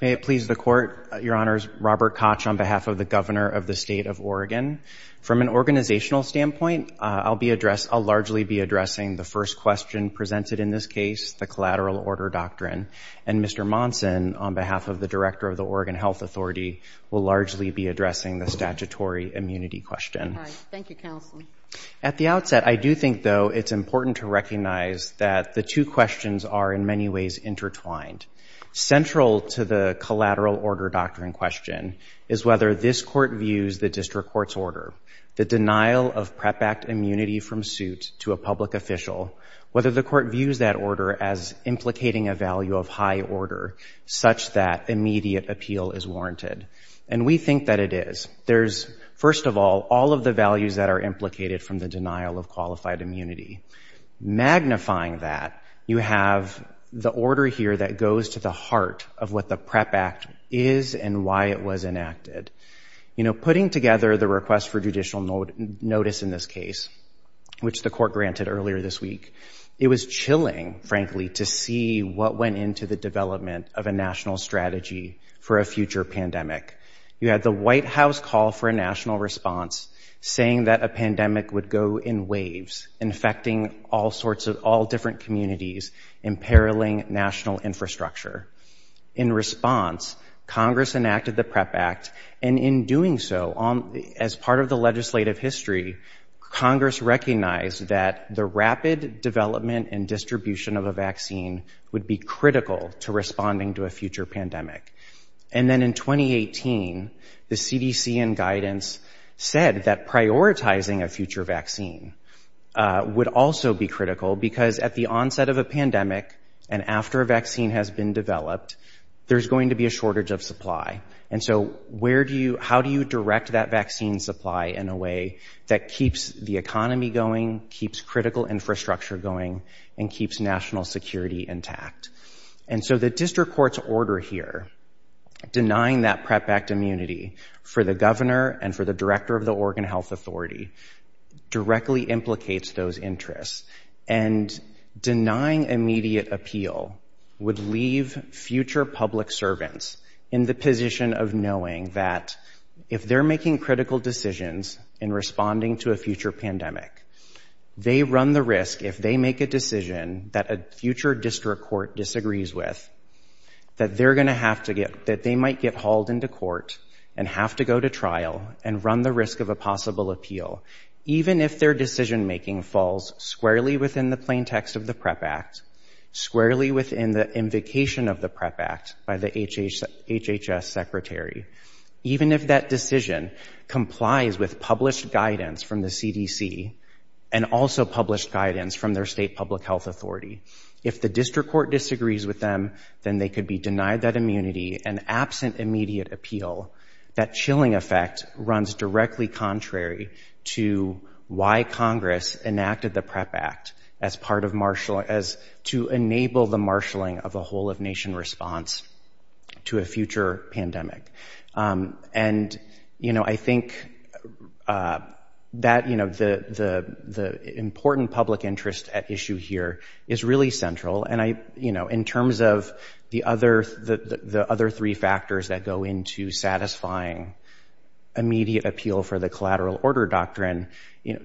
May it please the Court, Your Honors, Robert Koch on behalf of the Governor of the State of Oregon. From an organizational standpoint, I'll largely be addressing the first question presented in this case, the collateral order doctrine. And Mr. Monson, on behalf of the Director of the Oregon Health Authority, will largely be addressing the statutory immunity question. At the outset, I do think, though, it's important to recognize that the two questions are in many ways intertwined. Central to the collateral order doctrine question is whether this Court views the district court's order, the denial of PrEP Act immunity from suit to a public official, whether the Court views that order as implicating a value of high order such that immediate appeal is warranted. And we think that it is. There's, first of all, all of the values that are implicated from the denial of qualified immunity. Magnifying that, you have the order here that goes to the heart of what the PrEP Act is and why it was enacted. You know, putting together the request for judicial notice in this case, which the Court granted earlier this week, it was chilling, frankly, to see what went into the development of a national strategy for a future pandemic. You had the White House call for a national response, saying that a pandemic would go in waves, infecting all sorts of all different communities, imperiling national infrastructure. In response, Congress enacted the PrEP Act, and in doing so, as part of the legislative history, Congress recognized that the rapid development and distribution of a vaccine would be critical to responding to a future pandemic. And then in 2018, the CDC and guidance said that prioritizing a future vaccine would also be critical because at the onset of a pandemic and after a vaccine has been developed, there's going to be a shortage of supply. And so where do you, how do you direct that vaccine supply in a way that keeps the economy going, keeps critical infrastructure going, and keeps national security intact? And so the district court's order here, denying that PrEP Act immunity for the governor and for the director of the Oregon Health Authority, directly implicates those interests. And denying immediate appeal would leave future public servants in the position of knowing that if they're making critical decisions in responding to a future pandemic, they run the risk if they make a decision that a future district court disagrees with, that they're going to have to get, that they might get hauled into court and have to go to trial and run the risk of a possible appeal. Even if their decision making falls squarely within the plaintext of the PrEP Act, squarely within the invocation of the PrEP Act by the HHS secretary, even if that decision complies with published guidance from the CDC and also published guidance from their state public health authority, if the district court disagrees with them, then they could be denied that immunity and absent immediate appeal. That chilling effect runs directly contrary to why Congress enacted the PrEP Act as part of marshaling, as to enable the marshaling of a whole of nation response to a future pandemic. And, you know, I think that, you know, the important public interest at issue here is really central. And I, you know, in terms of the other three factors that go into satisfying immediate appeal for the collateral order doctrine, you know,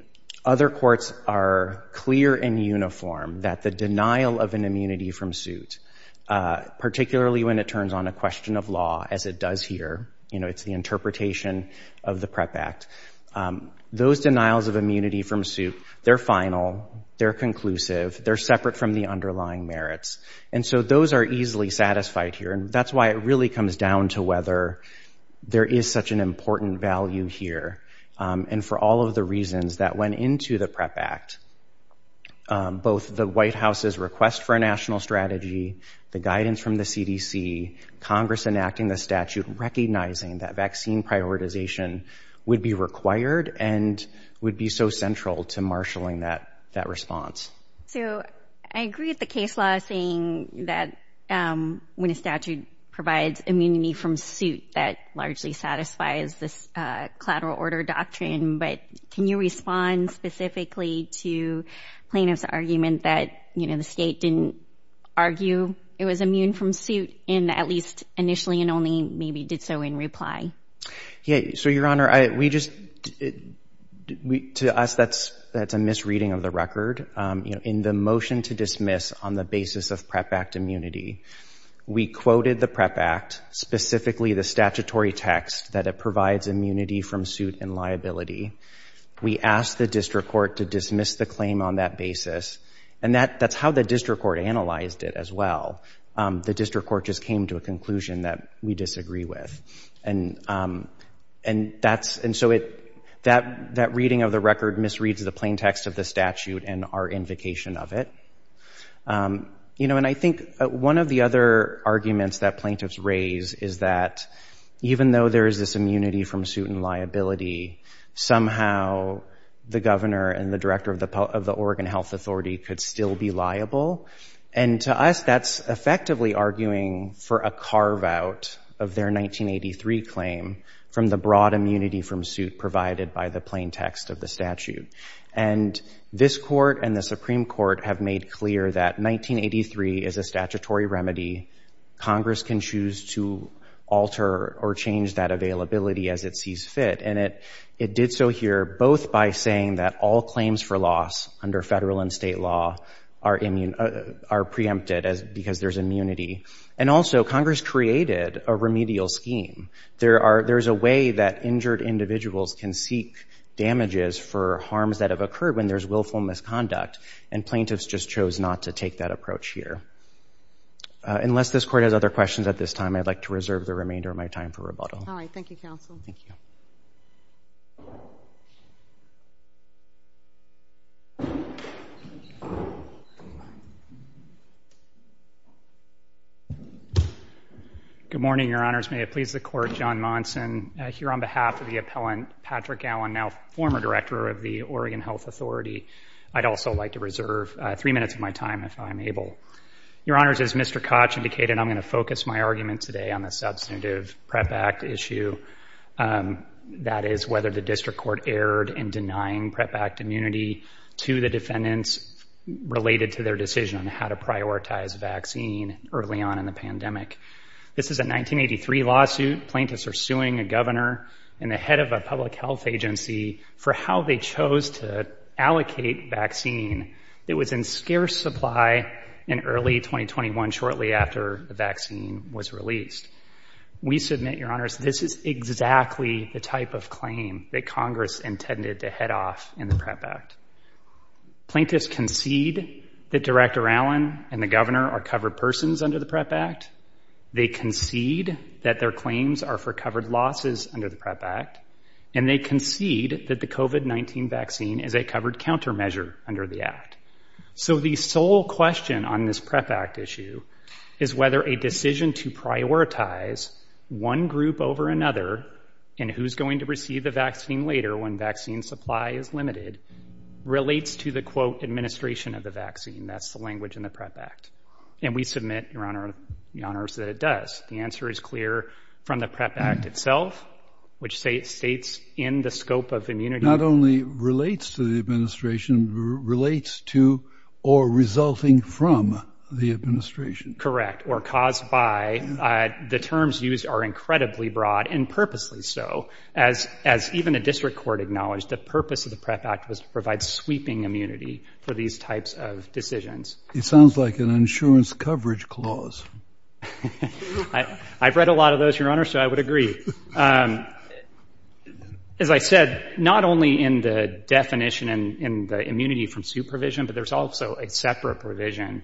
other courts are clear and uniform that the denial of an immunity from suit, particularly when it turns on a year, you know, it's the interpretation of the PrEP Act. Those denials of immunity from suit, they're final, they're conclusive, they're separate from the underlying merits. And so those are easily satisfied here. And that's why it really comes down to whether there is such an important value here. And for all of the reasons that went into the PrEP Act, both the White House's request for a national strategy, the guidance from the CDC, Congress enacting the statute, recognizing that vaccine prioritization would be required and would be so central to marshaling that response. So I agree with the case law saying that when a statute provides immunity from suit, that largely satisfies this collateral order doctrine. But can you respond specifically to plaintiff's argument that, you know, the state didn't argue it was immune from suit in at least initially and only maybe did so in reply? Yeah. So, Your Honor, we just, to us, that's a misreading of the record. In the motion to dismiss on the basis of PrEP Act immunity, we quoted the PrEP Act, specifically the statutory text that it provides immunity from suit and liability. We asked the district court to And that's how the district court analyzed it as well. The district court just came to a conclusion that we disagree with. And that's, and so it, that reading of the record misreads the plain text of the statute and our invocation of it. You know, and I think one of the other arguments that plaintiffs raise is that even though there is this immunity from suit and liability, it could still be liable. And to us, that's effectively arguing for a carveout of their 1983 claim from the broad immunity from suit provided by the plain text of the statute. And this court and the Supreme Court have made clear that 1983 is a statutory remedy. Congress can choose to alter or change that availability as it sees fit. And it, it did so here, both by saying that all claims for loss under federal and state law are immune, are preempted as because there's immunity. And also Congress created a remedial scheme. There are, there's a way that injured individuals can seek damages for harms that have occurred when there's willful misconduct. And plaintiffs just chose not to take that approach here. Unless this court has other questions at this time, I'd like to reserve the remainder of my time for rebuttal. All right. Thank you, counsel. Thank you. Good morning, your honors. May it please the court, John Monson here on behalf of the appellant Patrick Allen, now former director of the Oregon Health Authority. I'd also like to reserve three minutes of my time if I'm able. Your honors, as Mr. Koch indicated, I'm going to focus my argument today on the substantive PrEP Act issue. That is whether the district court erred in denying PrEP Act immunity to the defendants related to their decision on how to prioritize vaccine early on in the pandemic. This is a 1983 lawsuit. Plaintiffs are suing a governor and the head of a public health agency for how they chose to allocate vaccine. It was in scarce supply in early 2021, shortly after the vaccine was released. We submit, your honors, this is exactly the type of claim that Congress intended to head off in the PrEP Act. Plaintiffs concede that Director Allen and the governor are covered persons under the PrEP Act. They concede that their claims are for covered losses under the PrEP Act. And they concede that the COVID-19 vaccine is a covered countermeasure under the act. So the sole question on this PrEP Act issue is whether a decision to prioritize one group over another and who's going to receive the vaccine later when vaccine supply is limited relates to the, quote, administration of the vaccine. That's the language in the PrEP Act. And we submit, your honor, that it does. The answer is clear from the PrEP Act itself, which states in the scope of immunity. Not only relates to the administration, relates to or resulting from the administration. Correct. Or caused by. The terms used are incredibly broad and purposely so. As even a district court acknowledged, the purpose of the PrEP Act was to provide sweeping immunity for these types of decisions. It sounds like an insurance coverage clause. I've read a lot of those, your honor, so I would agree. As I said, not only in the definition and the immunity from supervision, but there's also a separate provision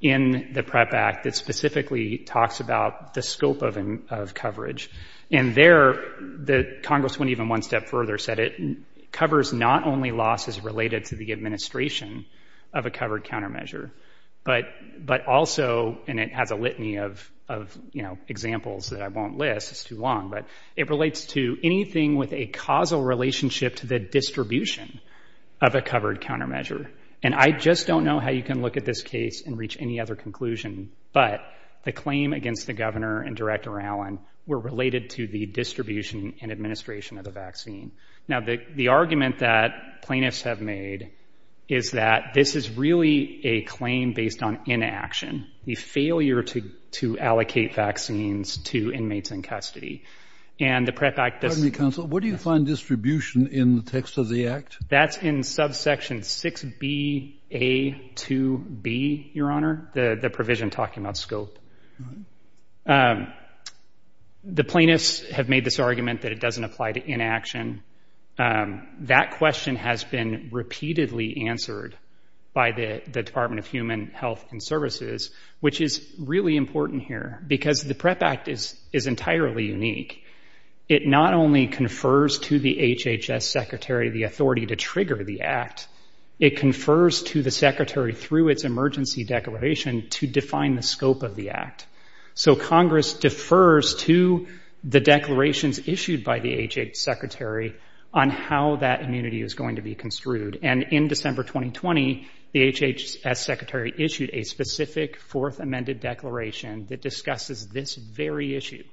in the PrEP Act that specifically talks about the scope of coverage. And there, the Congress went even one step further, said it covers not only losses related to the administration of a Also, and it has a litany of examples that I won't list, it's too long, but it relates to anything with a causal relationship to the distribution of a covered countermeasure. And I just don't know how you can look at this case and reach any other conclusion. But the claim against the governor and Director Allen were related to the distribution and administration of the vaccine. Now, the argument that plaintiffs have made is that this is really a claim based on inaction, the failure to allocate vaccines to inmates in custody. And the PrEP Act does... Pardon me, counsel. What do you find distribution in the text of the act? That's in subsection 6BA2B, your honor, the provision talking about scope. The plaintiffs have made this argument that it doesn't apply to inaction. That question has been repeatedly answered by the Department of Human Health and Services, which is really important here because the PrEP Act is entirely unique. It not only confers to the HHS secretary the authority to trigger the act, it confers to the secretary through its emergency declaration to define the scope of the act. So Congress defers to the declarations issued by the HHS secretary on how that immunity is going to be construed. And in December 2020, the HHS secretary issued a specific fourth amended declaration that discusses this very issue.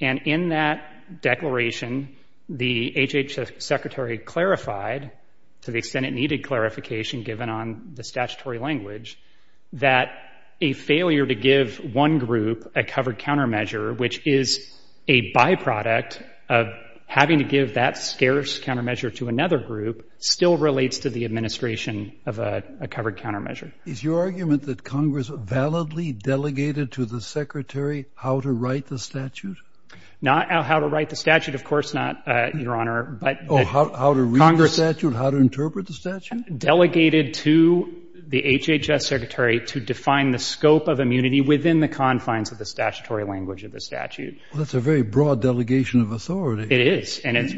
And in that declaration, the HHS secretary clarified to the extent it needed clarification given on the statutory language, that a failure to give one group a covered countermeasure, which is a byproduct of having to give that scarce countermeasure to another group, still relates to the administration of a covered countermeasure. Is your argument that Congress validly delegated to the secretary how to write the statute? Not how to write the statute, of course not, your honor, but... Oh, how to read the statute, how to interpret the statute? Delegated to the HHS secretary to define the scope of immunity within the confines of the statutory language of the statute. Well, that's a very broad delegation of authority. It is, and it's...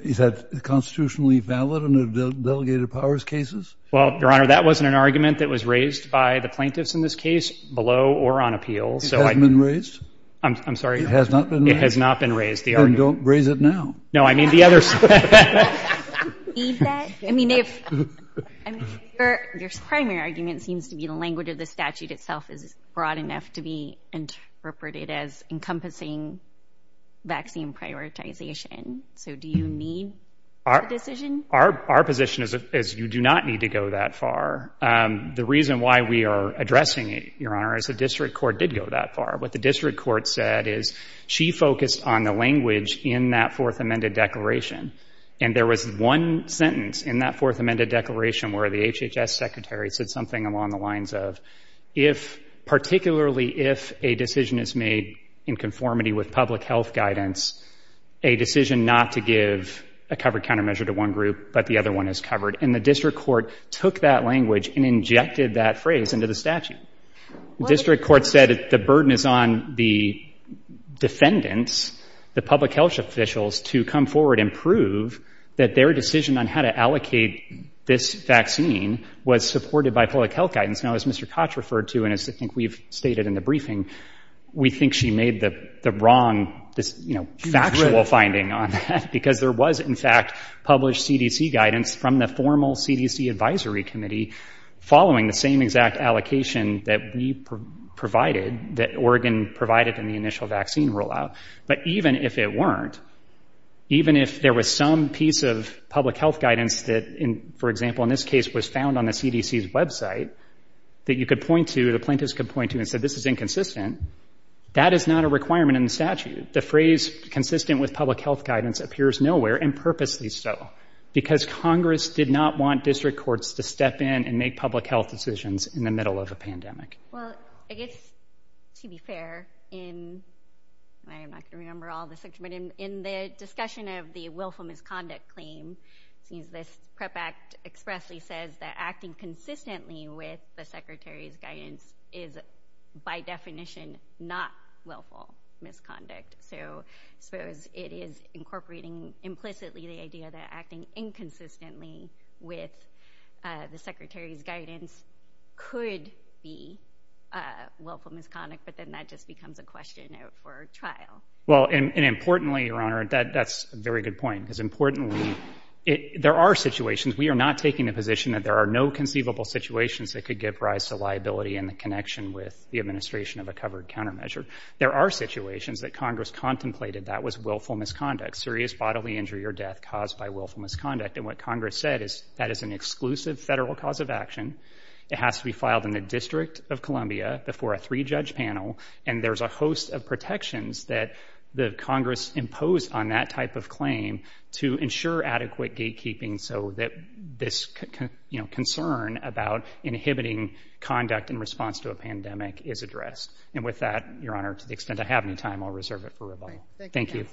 Is that constitutionally valid in the delegated powers cases? Well, your honor, that wasn't an argument that was raised by the plaintiffs in this case below or on appeal, so I... It hasn't been raised? I'm sorry? It has not been raised? It has not been raised, the argument... Then don't raise it now. No, I mean the other... Do you need that? I mean, if... I mean, your primary argument seems to be the language of the statute itself is broad enough to be interpreted as encompassing vaccine prioritization, so do you need the decision? Our position is you do not need to go that far. The reason why we are addressing it, your honor, is the district court did go that far. What the district court said is she focused on the language in that fourth amended declaration, and there was one sentence in that fourth amended declaration where the HHS secretary said something along the lines of, if, particularly if a decision is made in conformity with public health guidance, a decision not to give a covered countermeasure to one group, but the other one is covered, and the district court took that language and injected that phrase into the statute. The district court said the burden is on the defendants, the public health officials, to come forward and prove that their decision on how to allocate this vaccine was supported by public health guidance. Now, as Mr. Koch referred to, and as I think we've stated in the briefing, we think she made the wrong, you know, factual finding on that, because there was, in fact, published CDC guidance from the formal CDC advisory committee following the same exact allocation that we provided, that Oregon provided in the initial vaccine rollout. But even if it weren't, even if there was some piece of public health guidance that, for example, in this case, was found on the CDC's website that you could point to, the plaintiffs could point to, and said this is inconsistent, that is not a requirement in the statute. The phrase consistent with public health guidance appears nowhere, and purposely so, because Congress did not want district courts to step in and make public health decisions in the middle of a pandemic. Well, I guess, to be fair, in, I'm not going to remember all the sections, but in the discussion of the willful misconduct claim, since this PREP Act expressly says that acting consistently with the Secretary's guidance is, by definition, not willful misconduct, so suppose it is incorporating implicitly the idea that acting inconsistently with the Secretary's guidance could be willful misconduct, but then that just becomes a question out for trial. Well, and importantly, Your Honor, that's a very good point, because importantly, there are situations, we are not taking the position that there are no conceivable situations that could give rise to liability in the connection with the administration of a covered countermeasure. There are situations that Congress contemplated that was willful misconduct, serious bodily injury or death caused by willful misconduct, and what Congress said is that is an exclusive federal cause of action, it has to be filed in the District of Columbia before a three-judge panel, and there's a host of protections that the Congress imposed on that type of claim to ensure adequate gatekeeping so that this concern about inhibiting conduct in response to a pandemic is addressed. And with that, Your Honor, to the extent I have any time, I'll reserve it for rebuttal. Thank you. Thank you.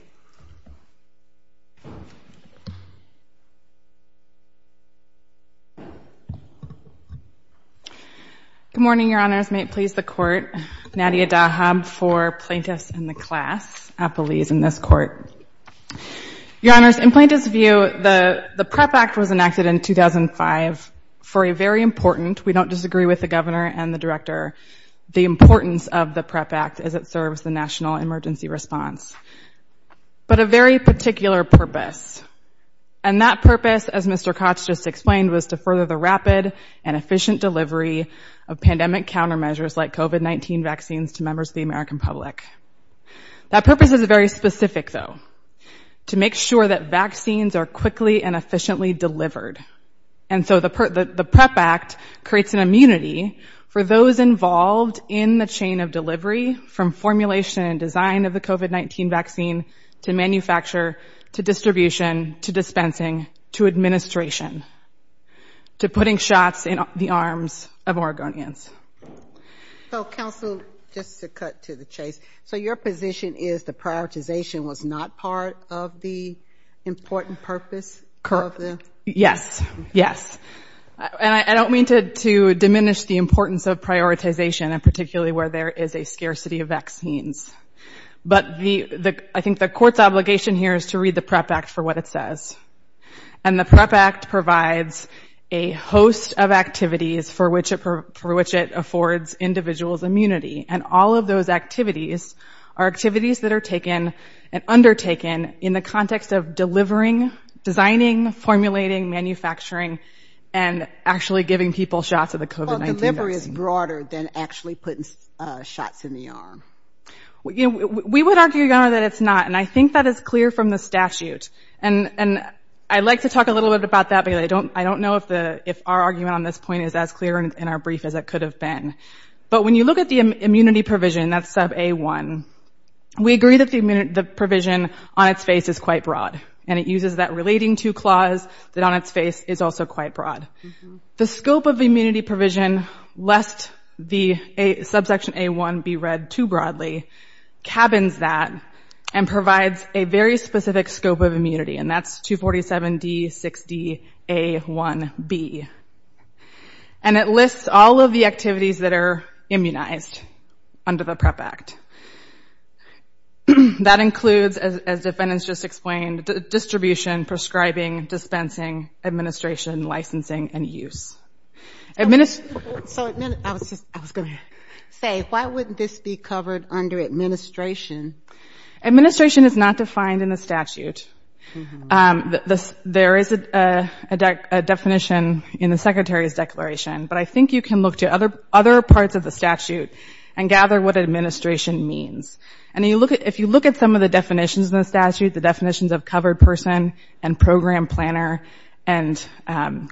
Good morning, Your Honors, may it please the Court, Nadia Dahab for Plaintiffs in the Class, Appellees in this Court. Your Honors, in Plaintiffs' view, the PREP Act was enacted in 2005 for a very important, we don't disagree with the Governor and the Director, the importance of the PREP Act as it serves the national emergency response, but a very particular purpose, and that purpose, as Mr. Kotch just explained, was to further the rapid and efficient delivery of pandemic countermeasures like COVID-19 vaccines to members of the American public. That purpose is very specific, though, to make sure that vaccines are quickly and efficiently delivered, and so the PREP Act creates an immunity for those involved in the chain of delivery from formulation and design of the COVID-19 vaccine to manufacture, to distribution, to dispensing, to administration, to putting shots in the arms of Oregonians. So, Counsel, just to cut to the chase, so your position is the prioritization was not part of the important purpose of the? Yes, yes, and I don't mean to diminish the importance of prioritization, and particularly where there is a scarcity of vaccines, but I think the Court's obligation here is to read the PREP Act for what it says, and the PREP Act provides a host of activities for which it affords individuals immunity, and all of those activities are activities that are taken and undertaken in the context of delivering, designing, formulating, manufacturing, and actually giving people shots of the COVID-19 vaccine. Well, delivery is broader than actually putting shots in the arm. We would argue, Your Honor, that it's not, and I think that is clear from the statute, and I'd like to talk a little bit about that, but I don't know if our argument on this point is as clear in our brief as it could have been, but when you look at the immunity provision, that's sub A1, we agree that the provision on its face is quite broad, and it uses that relating to clause that on its face is also quite broad. The scope of immunity provision, lest the subsection A1 be read too broadly, cabins that and provides a very specific scope of immunity, and that's 247D60A1B, and it lists all of the activities that are immunized under the PREP Act. That includes, as defendants just explained, distribution, prescribing, dispensing, administration, licensing, and use. I was going to say, why wouldn't this be covered under administration? Administration is not defined in the statute. There is a definition in the Secretary's declaration, but I think you can look to other parts of the statute and gather what administration means, and if you look at some of the definitions in the statute, the definitions of covered person and program planner and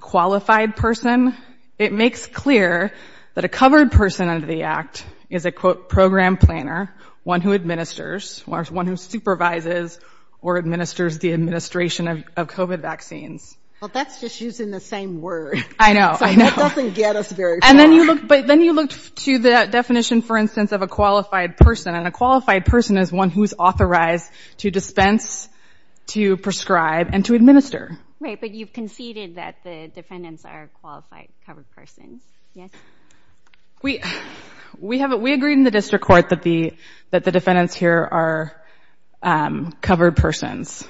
qualified person, it makes clear that a covered person under the Act is a, quote, program planner, one who administers, one who supervises or administers the administration of COVID vaccines. Well, that's just using the same word. I know, I know. So it doesn't get us very far. And then you look, but then you look to the definition, for instance, of a qualified person, and a qualified person is one who's authorized to dispense, to prescribe, and to administer. Right, but you've conceded that the defendants are qualified covered persons. Yes? We, we have, we agreed in the district court that the, that the defendants here are covered persons.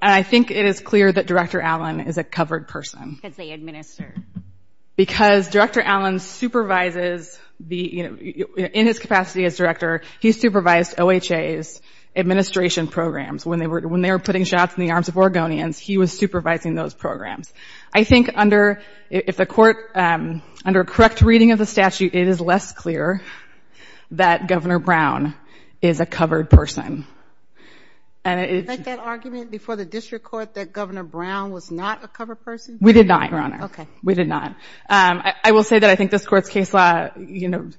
I think it is clear that Director Allen is a covered person. Because they administer. Because Director Allen supervises the, you know, in his capacity as director, he supervised OHA's administration programs. When they were, when they were putting shots in the arms of Oregonians, he was supervising those programs. I think under, if the court, under correct reading of the statute, it is less clear that Governor Brown is a covered person. And it, Like that argument before the district court that Governor Brown was not a covered person? We did not, Your Honor. Okay. We did not. I will say that I think this court's case law, you know,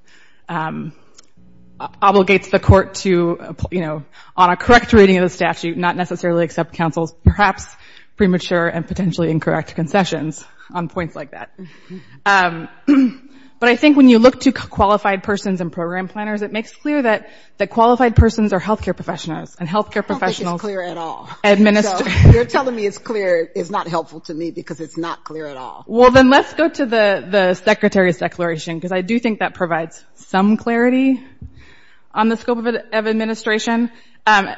obligates the court to, you know, on a correct reading of the statute, not necessarily accept counsel's perhaps premature and potentially incorrect concessions on points like that. But I think when you look to qualified persons and program planners, it makes clear that, that qualified persons are healthcare professionals. And healthcare professionals, I don't think it's clear at all. Administer. So you're telling me it's clear is not helpful to me because it's not clear at all. Well, then let's go to the, the Secretary's declaration, because I do think that provides some clarity on the scope of administration. And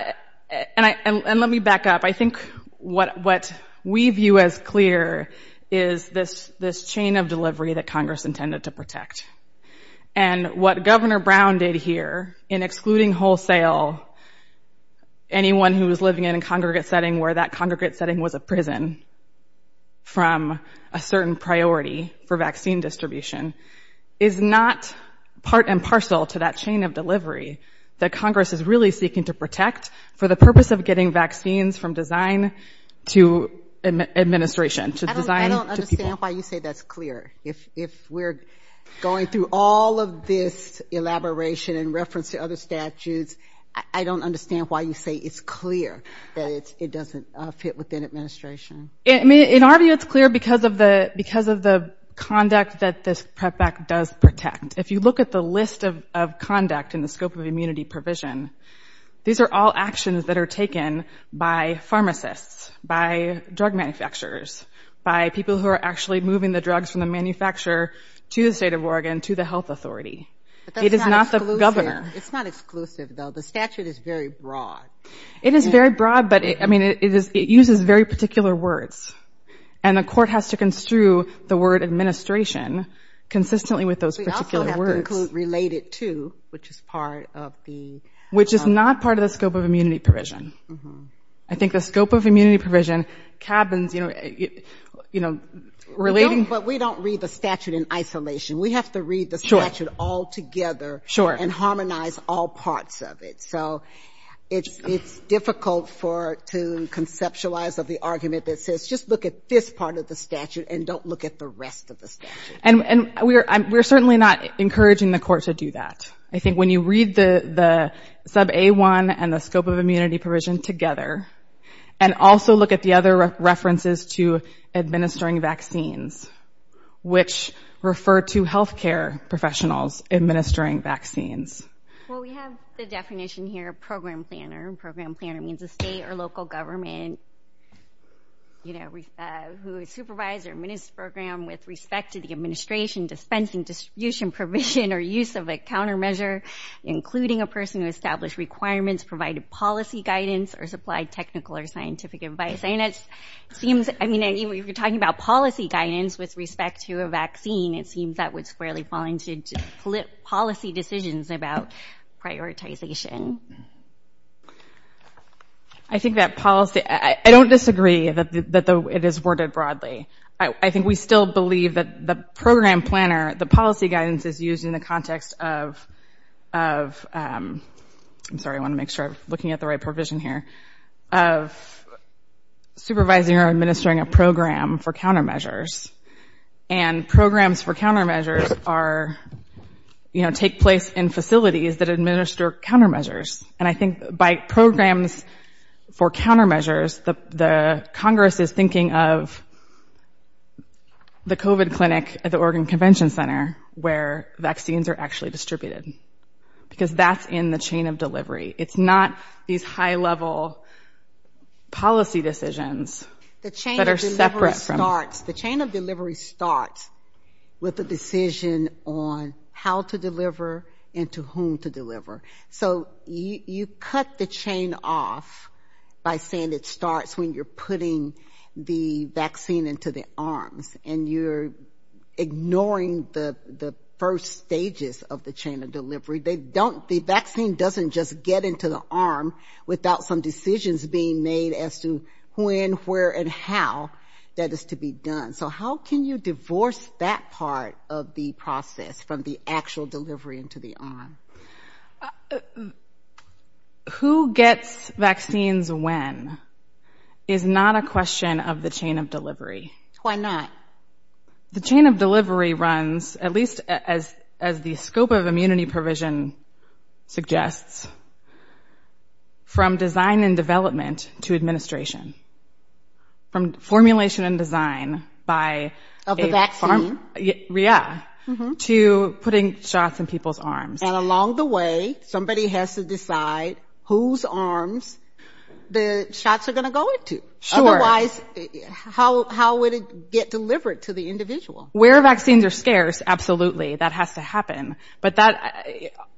I, and let me back up. I think what, what we view as clear is this, this chain of delivery that Congress intended to protect. And what Governor Brown did here in excluding wholesale, anyone who was living in a congregate setting where that congregate setting was a prison from a certain priority for vaccine distribution is not part and parcel to that chain of delivery that Congress is really seeking to protect for the purpose of getting vaccines from design to administration, to design. I don't understand why you say that's clear. If we're going through all of this elaboration in reference to other statutes, I don't understand why you say it's clear that it's, it doesn't fit within administration. In our view, it's clear because of the, because of the conduct that this PREP Act does protect. If you look at the list of, of conduct in the scope of immunity provision, these are all actions that are taken by pharmacists, by drug manufacturers, by people who are actually moving the drugs from the manufacturer to the state of Oregon to the health authority. It is not the governor. It's not exclusive though. The statute is very broad. It is very broad, but it, I mean, it is, it uses very particular words and the court has to construe the word administration consistently with those particular words. We also have to include related to, which is part of the. Which is not part of the scope of immunity provision. I think the scope of immunity provision cabins, you know, you know, relating. But we don't read the statute in isolation. We have to read the statute all together. Sure. And harmonize all parts of it. So it's, it's difficult for, to conceptualize of the argument that says, just look at this part of the statute and don't look at the rest of the statute. And, and we're, we're certainly not encouraging the court to do that. I think when you read the, the sub A1 and the scope of immunity provision together and also look at the other references to administering vaccines, which refer to healthcare professionals administering vaccines. Well, we have the definition here, a program planner and program planner means a state or local government, you know, who supervise or administer program with respect to the administration, dispensing, distribution, provision, or use of a countermeasure, including a person who established requirements, provided policy guidance, or supplied technical or scientific advice. And it seems, I mean, if you're talking about policy guidance with respect to a vaccine, it seems that would squarely fall into policy decisions about prioritization. I think that policy, I don't disagree that the, that the, it is worded broadly. I think we still believe that the program planner, the policy guidance is used in the context of, of, I'm sorry, I want to make sure I'm looking at the right provision here, of supervising or administering a program for countermeasures and programs for countermeasures are, you know, take place in facilities that administer countermeasures. And I think by programs for countermeasures, the Congress is thinking of the COVID clinic at the Oregon Convention Center, where vaccines are actually distributed because that's in the chain of delivery. It's not these high-level policy decisions that are separate from. The chain of delivery starts with the decision on how to deliver and to whom to deliver. So you cut the chain off by saying it starts when you're putting the vaccine into the arms and you're ignoring the, the first stages of the chain of delivery. They don't, the vaccine doesn't just get into the arm without some decisions being made as to when, where, and how that is to be done. So how can you divorce that part of the process from the actual delivery into the arm? Who gets vaccines when is not a question of the chain of delivery. Why not? The chain of delivery runs, at least as, as the scope of immunity provision suggests, from design and development to administration. From formulation and design by a pharm, yeah, to putting shots in people's arms. And along the way, somebody has to decide whose arms the shots are going to go into. Otherwise, how, how would it get delivered to the individual? Where vaccines are scarce, absolutely, that has to happen. But that,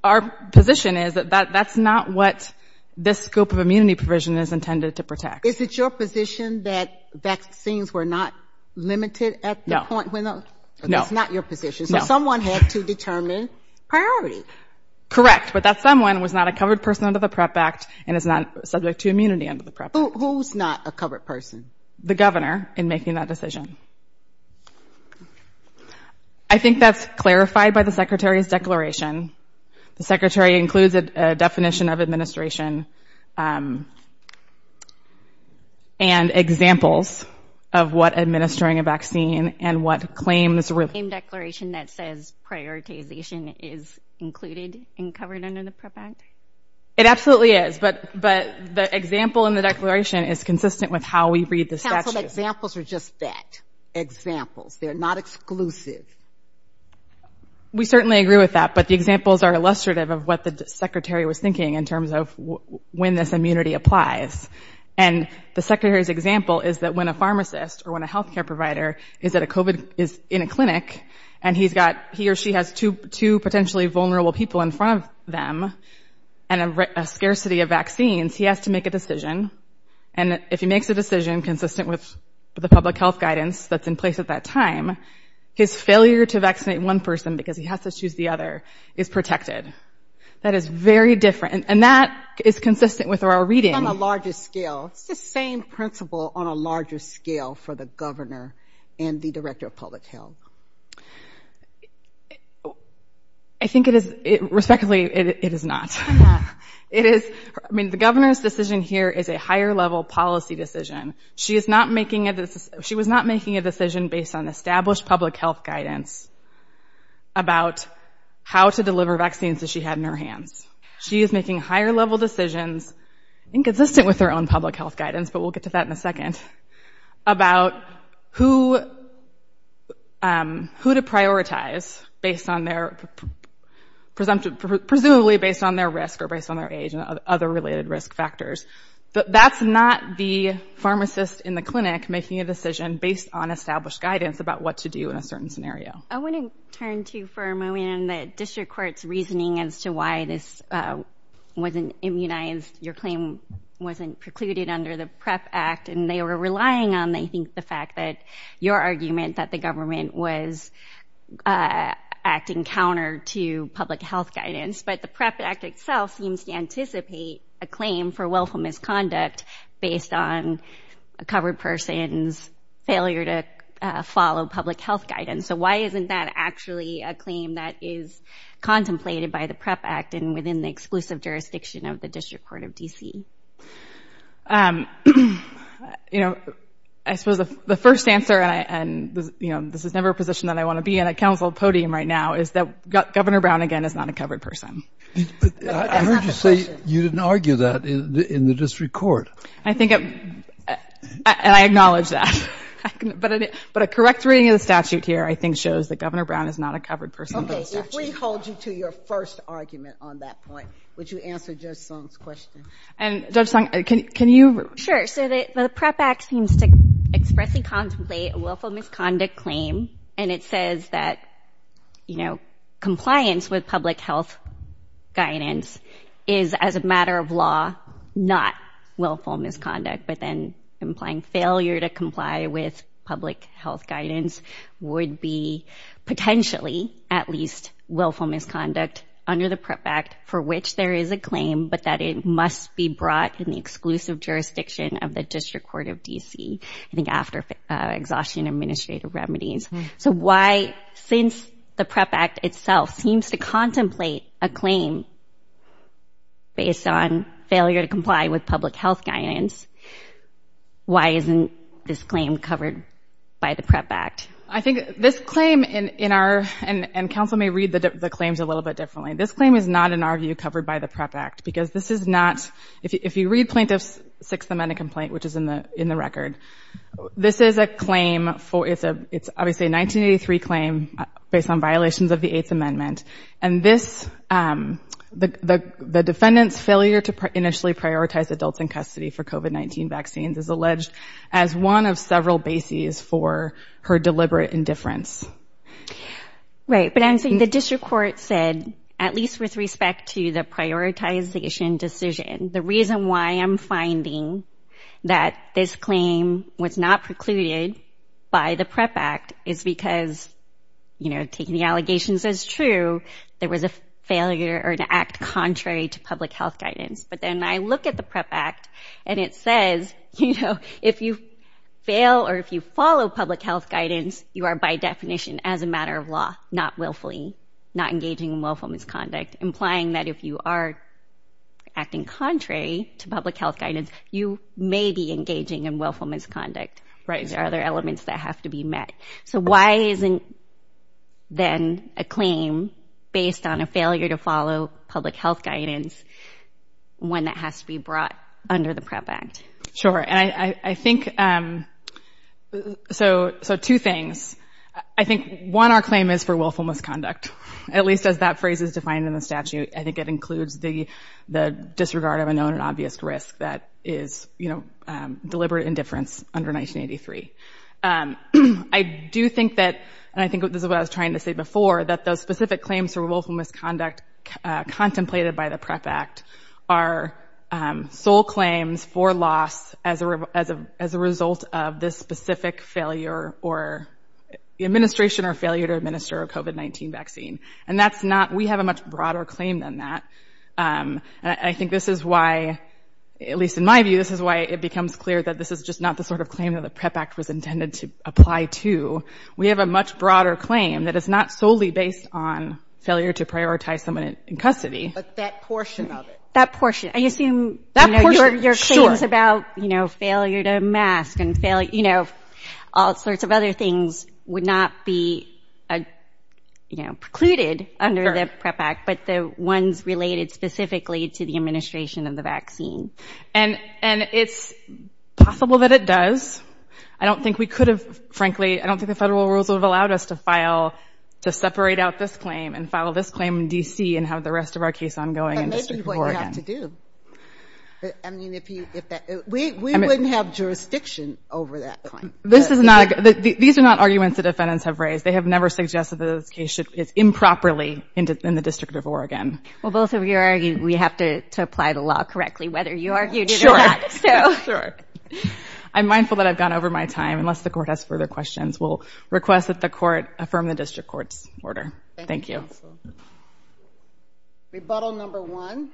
our position is that that, that's not what this scope of immunity provision is intended to protect. Is it your position that vaccines were not limited at the point when the, that's not your position. So someone had to determine priority. Correct. But that someone was not a covered person under the PREP Act and is not subject to immunity under the PREP Act. Who's not a covered person? The governor in making that decision. I think that's clarified by the Secretary's declaration. The Secretary includes a definition of administration and examples of what administering a vaccine and what claims. Is it the same declaration that says prioritization is included and covered under the PREP Act? It absolutely is. But, but the example in the declaration is consistent with how we read the statute. Council, examples are just that. Examples. They're not exclusive. We certainly agree with that. But the examples are illustrative of what the Secretary was thinking in terms of when this immunity applies. And the Secretary's example is that when a pharmacist or when a healthcare provider is at a COVID, is in a clinic and he's got, he or she has two, two potentially vulnerable people in front of them and a scarcity of vaccines, he has to make a decision. And if he makes a decision consistent with the public health guidance that's in place at that time, his failure to vaccinate one person because he has to choose the other is protected. That is very different. And that is consistent with our reading. On a larger scale, it's the same principle on a larger scale for the governor and the director of public health. I think it is, respectively, it is not. It is, I mean, the governor's decision here is a higher level policy decision. She is not making a, she was not making a decision based on established public health guidance about how to deliver vaccines that she had in her hands. She is making higher level decisions inconsistent with her own public health guidance, but we'll get to that in a second, about who to prioritize based on their presumptive, presumably based on their risk or based on their age and other related risk factors. But that's not the pharmacist in the clinic making a decision based on established guidance about what to do in a certain scenario. I want to turn to, for a moment, the district court's reasoning as to why this wasn't immunized, your claim wasn't precluded under the PREP Act and they were relying on, I think, the fact that your argument that the government was acting counter to public health guidance, but the PREP Act itself seems to anticipate a claim for willful misconduct based on a covered person's failure to follow public health guidance. So why isn't that actually a claim that is contemplated by the PREP Act and within the exclusive jurisdiction of the District Court of D.C.? Um, you know, I suppose the first answer, and this is never a position that I want to be in a council podium right now, is that Governor Brown, again, is not a covered person. I heard you say you didn't argue that in the District Court. I think, and I acknowledge that. But a correct reading of the statute here, I think, shows that Governor Brown is not a covered person. Okay, if we hold you to your first argument on that point, would you answer Judge Song's question? And Judge Song, can you... Sure, so the PREP Act seems to expressly contemplate a willful misconduct claim, and it says that, you know, compliance with public health guidance is, as a matter of law, not willful misconduct, but then implying failure to comply with public health guidance would be potentially at least willful misconduct under the PREP Act for which there is a claim, but that it must be brought in the exclusive jurisdiction of the District Court of D.C. I think after exhaustion of administrative remedies. So why, since the PREP Act itself seems to contemplate a claim based on failure to comply with public health guidance, why isn't this claim covered by the PREP Act? I think this claim in our... And counsel may read the claims a little bit differently. This claim is not, in our view, covered by the PREP Act, because this is not... If you read Plaintiff's Sixth Amendment complaint, which is in the record, this is a claim for... It's obviously a 1983 claim based on violations of the Eighth Amendment, and this, the defendant's failure to initially prioritize adults in custody for COVID-19 vaccines is alleged as one of several bases for her deliberate indifference. Right, but I'm saying the district court said, at least with respect to the prioritization decision, the reason why I'm finding that this claim was not precluded by the PREP Act is because, you know, taking the allegations as true, there was a failure or an act contrary to public health guidance. But then I look at the PREP Act, and it says, you know, if you fail or if you follow public health guidance, you are, by definition, as a matter of law, not willfully, not engaging in willful misconduct, implying that if you are acting contrary to public health guidance, you may be engaging in willful misconduct. There are other elements that have to be met. So why isn't then a claim based on a failure to follow public health guidance one that has to be brought under the PREP Act? Sure, and I think... So two things. I think, one, our claim is for willful misconduct, at least as that phrase is defined in the statute. I think it includes the disregard of a known and obvious risk that is, you know, deliberate indifference under 1983. I do think that, and I think this is what I was trying to say before, that those specific claims for willful misconduct contemplated by the PREP Act are sole claims for loss as a result of this specific failure or... administration or failure to administer a COVID-19 vaccine. And that's not... we have a much broader claim than that. And I think this is why, at least in my view, this is why it becomes clear that this is just not the sort of claim that the PREP Act was intended to apply to. We have a much broader claim that is not solely based on failure to prioritize someone in custody. But that portion of it. That portion. I assume... That portion, sure. ...your claims about, you know, failure to mask and failure... you know, all sorts of other things would not be, you know, precluded under the PREP Act, but the ones related specifically to the administration of the vaccine. And it's possible that it does. I don't think we could have, frankly... I don't think the federal rules would have allowed us to file... to separate out this claim and file this claim in D.C. and have the rest of our case ongoing in the District of Oregon. But maybe what you have to do. I mean, if you... we wouldn't have jurisdiction over that claim. This is not... these are not arguments the defendants have raised. They have never suggested that this case is improperly in the District of Oregon. Well, both of you are arguing we have to apply the law correctly, whether you argued it or not. Sure. So... Sure. I'm mindful that I've gone over my time, unless the Court has further questions. We'll request that the Court affirm the District Court's order. Thank you. Rebuttal number one.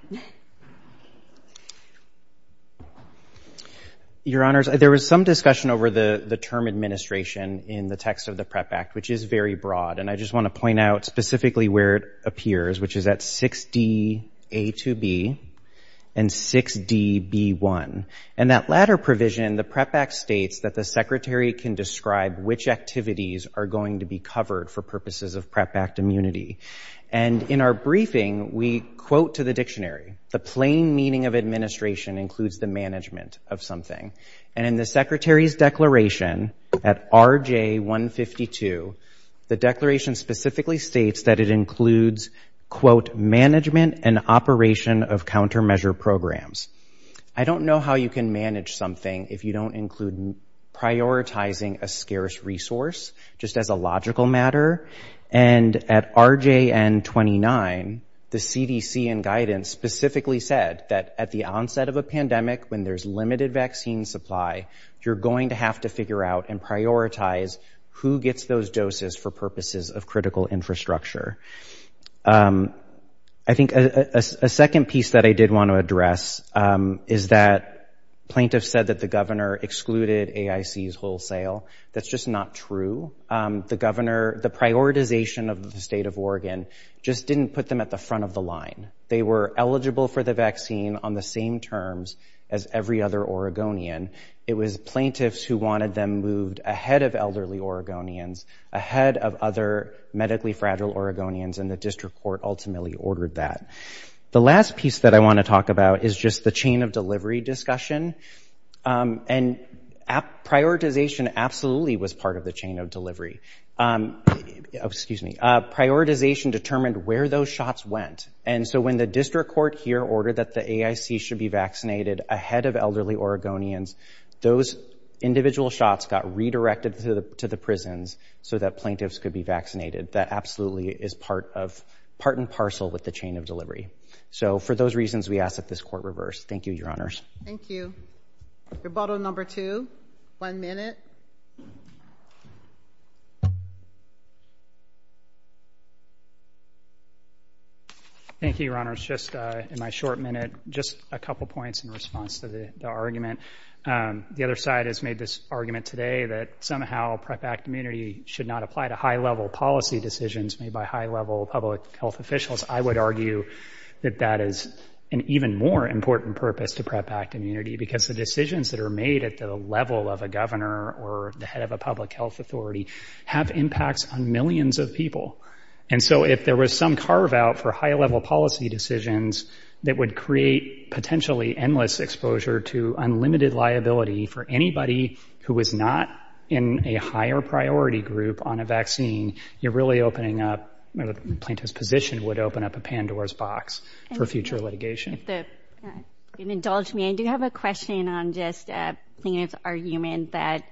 Your Honors, there was some discussion over the term administration in the text of the PrEP Act, which is very broad. And I just want to point out specifically where it appears, which is at 6D.A.2.B. and 6D.B.1. In that latter provision, the PrEP Act states that the Secretary can describe which activities are going to be covered for purposes of PrEP Act immunity. And in our briefing, we quote to the dictionary, the plain meaning of administration includes the management of something. And in the Secretary's declaration at RJ152, the declaration specifically states that it includes, quote, management and operation of countermeasure programs. I don't know how you can manage something if you don't include prioritizing a scarce resource, just as a logical matter. And at RJN29, the CDC in guidance specifically said that at the onset of a pandemic, when there's limited vaccine supply, you're going to have to figure out and prioritize who gets those doses for purposes of critical infrastructure. I think a second piece that I did want to address is that plaintiffs said that the governor excluded AIC's wholesale. That's just not true. The governor, the prioritization of the State of Oregon just didn't put them at the front of the line. They were eligible for the vaccine on the same terms as every other Oregonian. It was plaintiffs who wanted them moved ahead of elderly Oregonians, ahead of other medically fragile Oregonians, and the district court ultimately ordered that. The last piece that I want to talk about is just the chain of delivery discussion. And prioritization absolutely was part of the chain of delivery. Excuse me. Prioritization determined where those shots went. And so when the district court here ordered that the AIC should be vaccinated ahead of elderly Oregonians, those individual shots got redirected to the prisons so that plaintiffs could be vaccinated. That absolutely is part and parcel with the chain of delivery. So for those reasons, we ask that this court reverse. Thank you, Your Honors. Thank you. Rebuttal number two. One minute. Thank you, Your Honors. Just in my short minute, just a couple points in response to the argument. The other side has made this argument today that somehow PREP Act immunity should not apply to high-level policy decisions made by high-level public health officials. I would argue that that is an even more important purpose to PREP Act immunity because the decisions that are made at the level of a governor or the head of a public health authority have impacts on millions of people. And so if there was some carve-out for high-level policy decisions that would create potentially endless exposure to unlimited liability for anybody who is not in a higher-priority group on a vaccine, you're really opening up, the plaintiff's position would open up a Pandora's box for future litigation. If you can indulge me, I do have a question on just plaintiff's argument that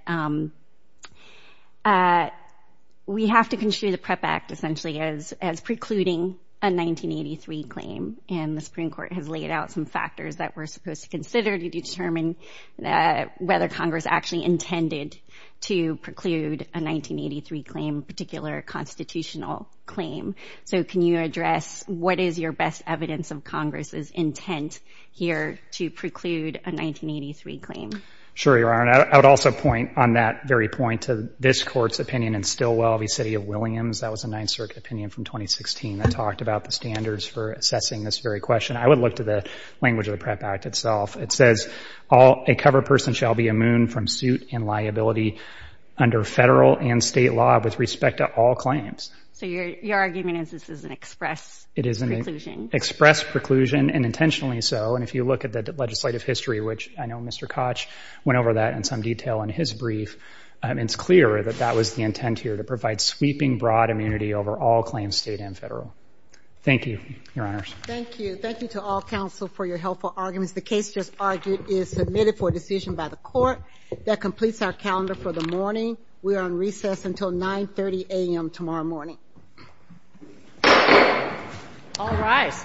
we have to consider the PREP Act essentially as precluding a 1983 claim, and the Supreme Court has laid out some factors that we're supposed to consider to determine whether Congress actually intended to preclude a 1983 claim, a particular constitutional claim. So can you address what is your best evidence of Congress's intent here to preclude a 1983 claim? Sure, Your Honor. I would also point on that very point to this Court's opinion in Stilwell v. City of Williams. That was a Ninth Circuit opinion from 2016 that talked about the standards for assessing this very question. I would look to the language of the PREP Act itself. It says, a cover person shall be immune from suit and liability under federal and state law with respect to all claims. So your argument is this is an express preclusion. It is an express preclusion, and intentionally so. And if you look at the legislative history, which I know Mr. Koch went over that in some detail in his brief, it's clear that that was the intent here, to provide sweeping broad immunity over all claims, state and federal. Thank you, Your Honors. Thank you. Thank you to all counsel for your helpful arguments. The case just argued is submitted for decision by the Court. That completes our calendar for the morning. We are on recess until 9.30 a.m. tomorrow morning. All rise.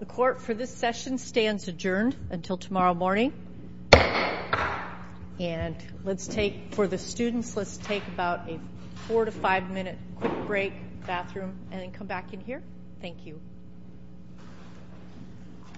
The Court for this session stands adjourned until tomorrow morning. For the students, let's take about a four- to five-minute quick break, bathroom, and then come back in here. Thank you.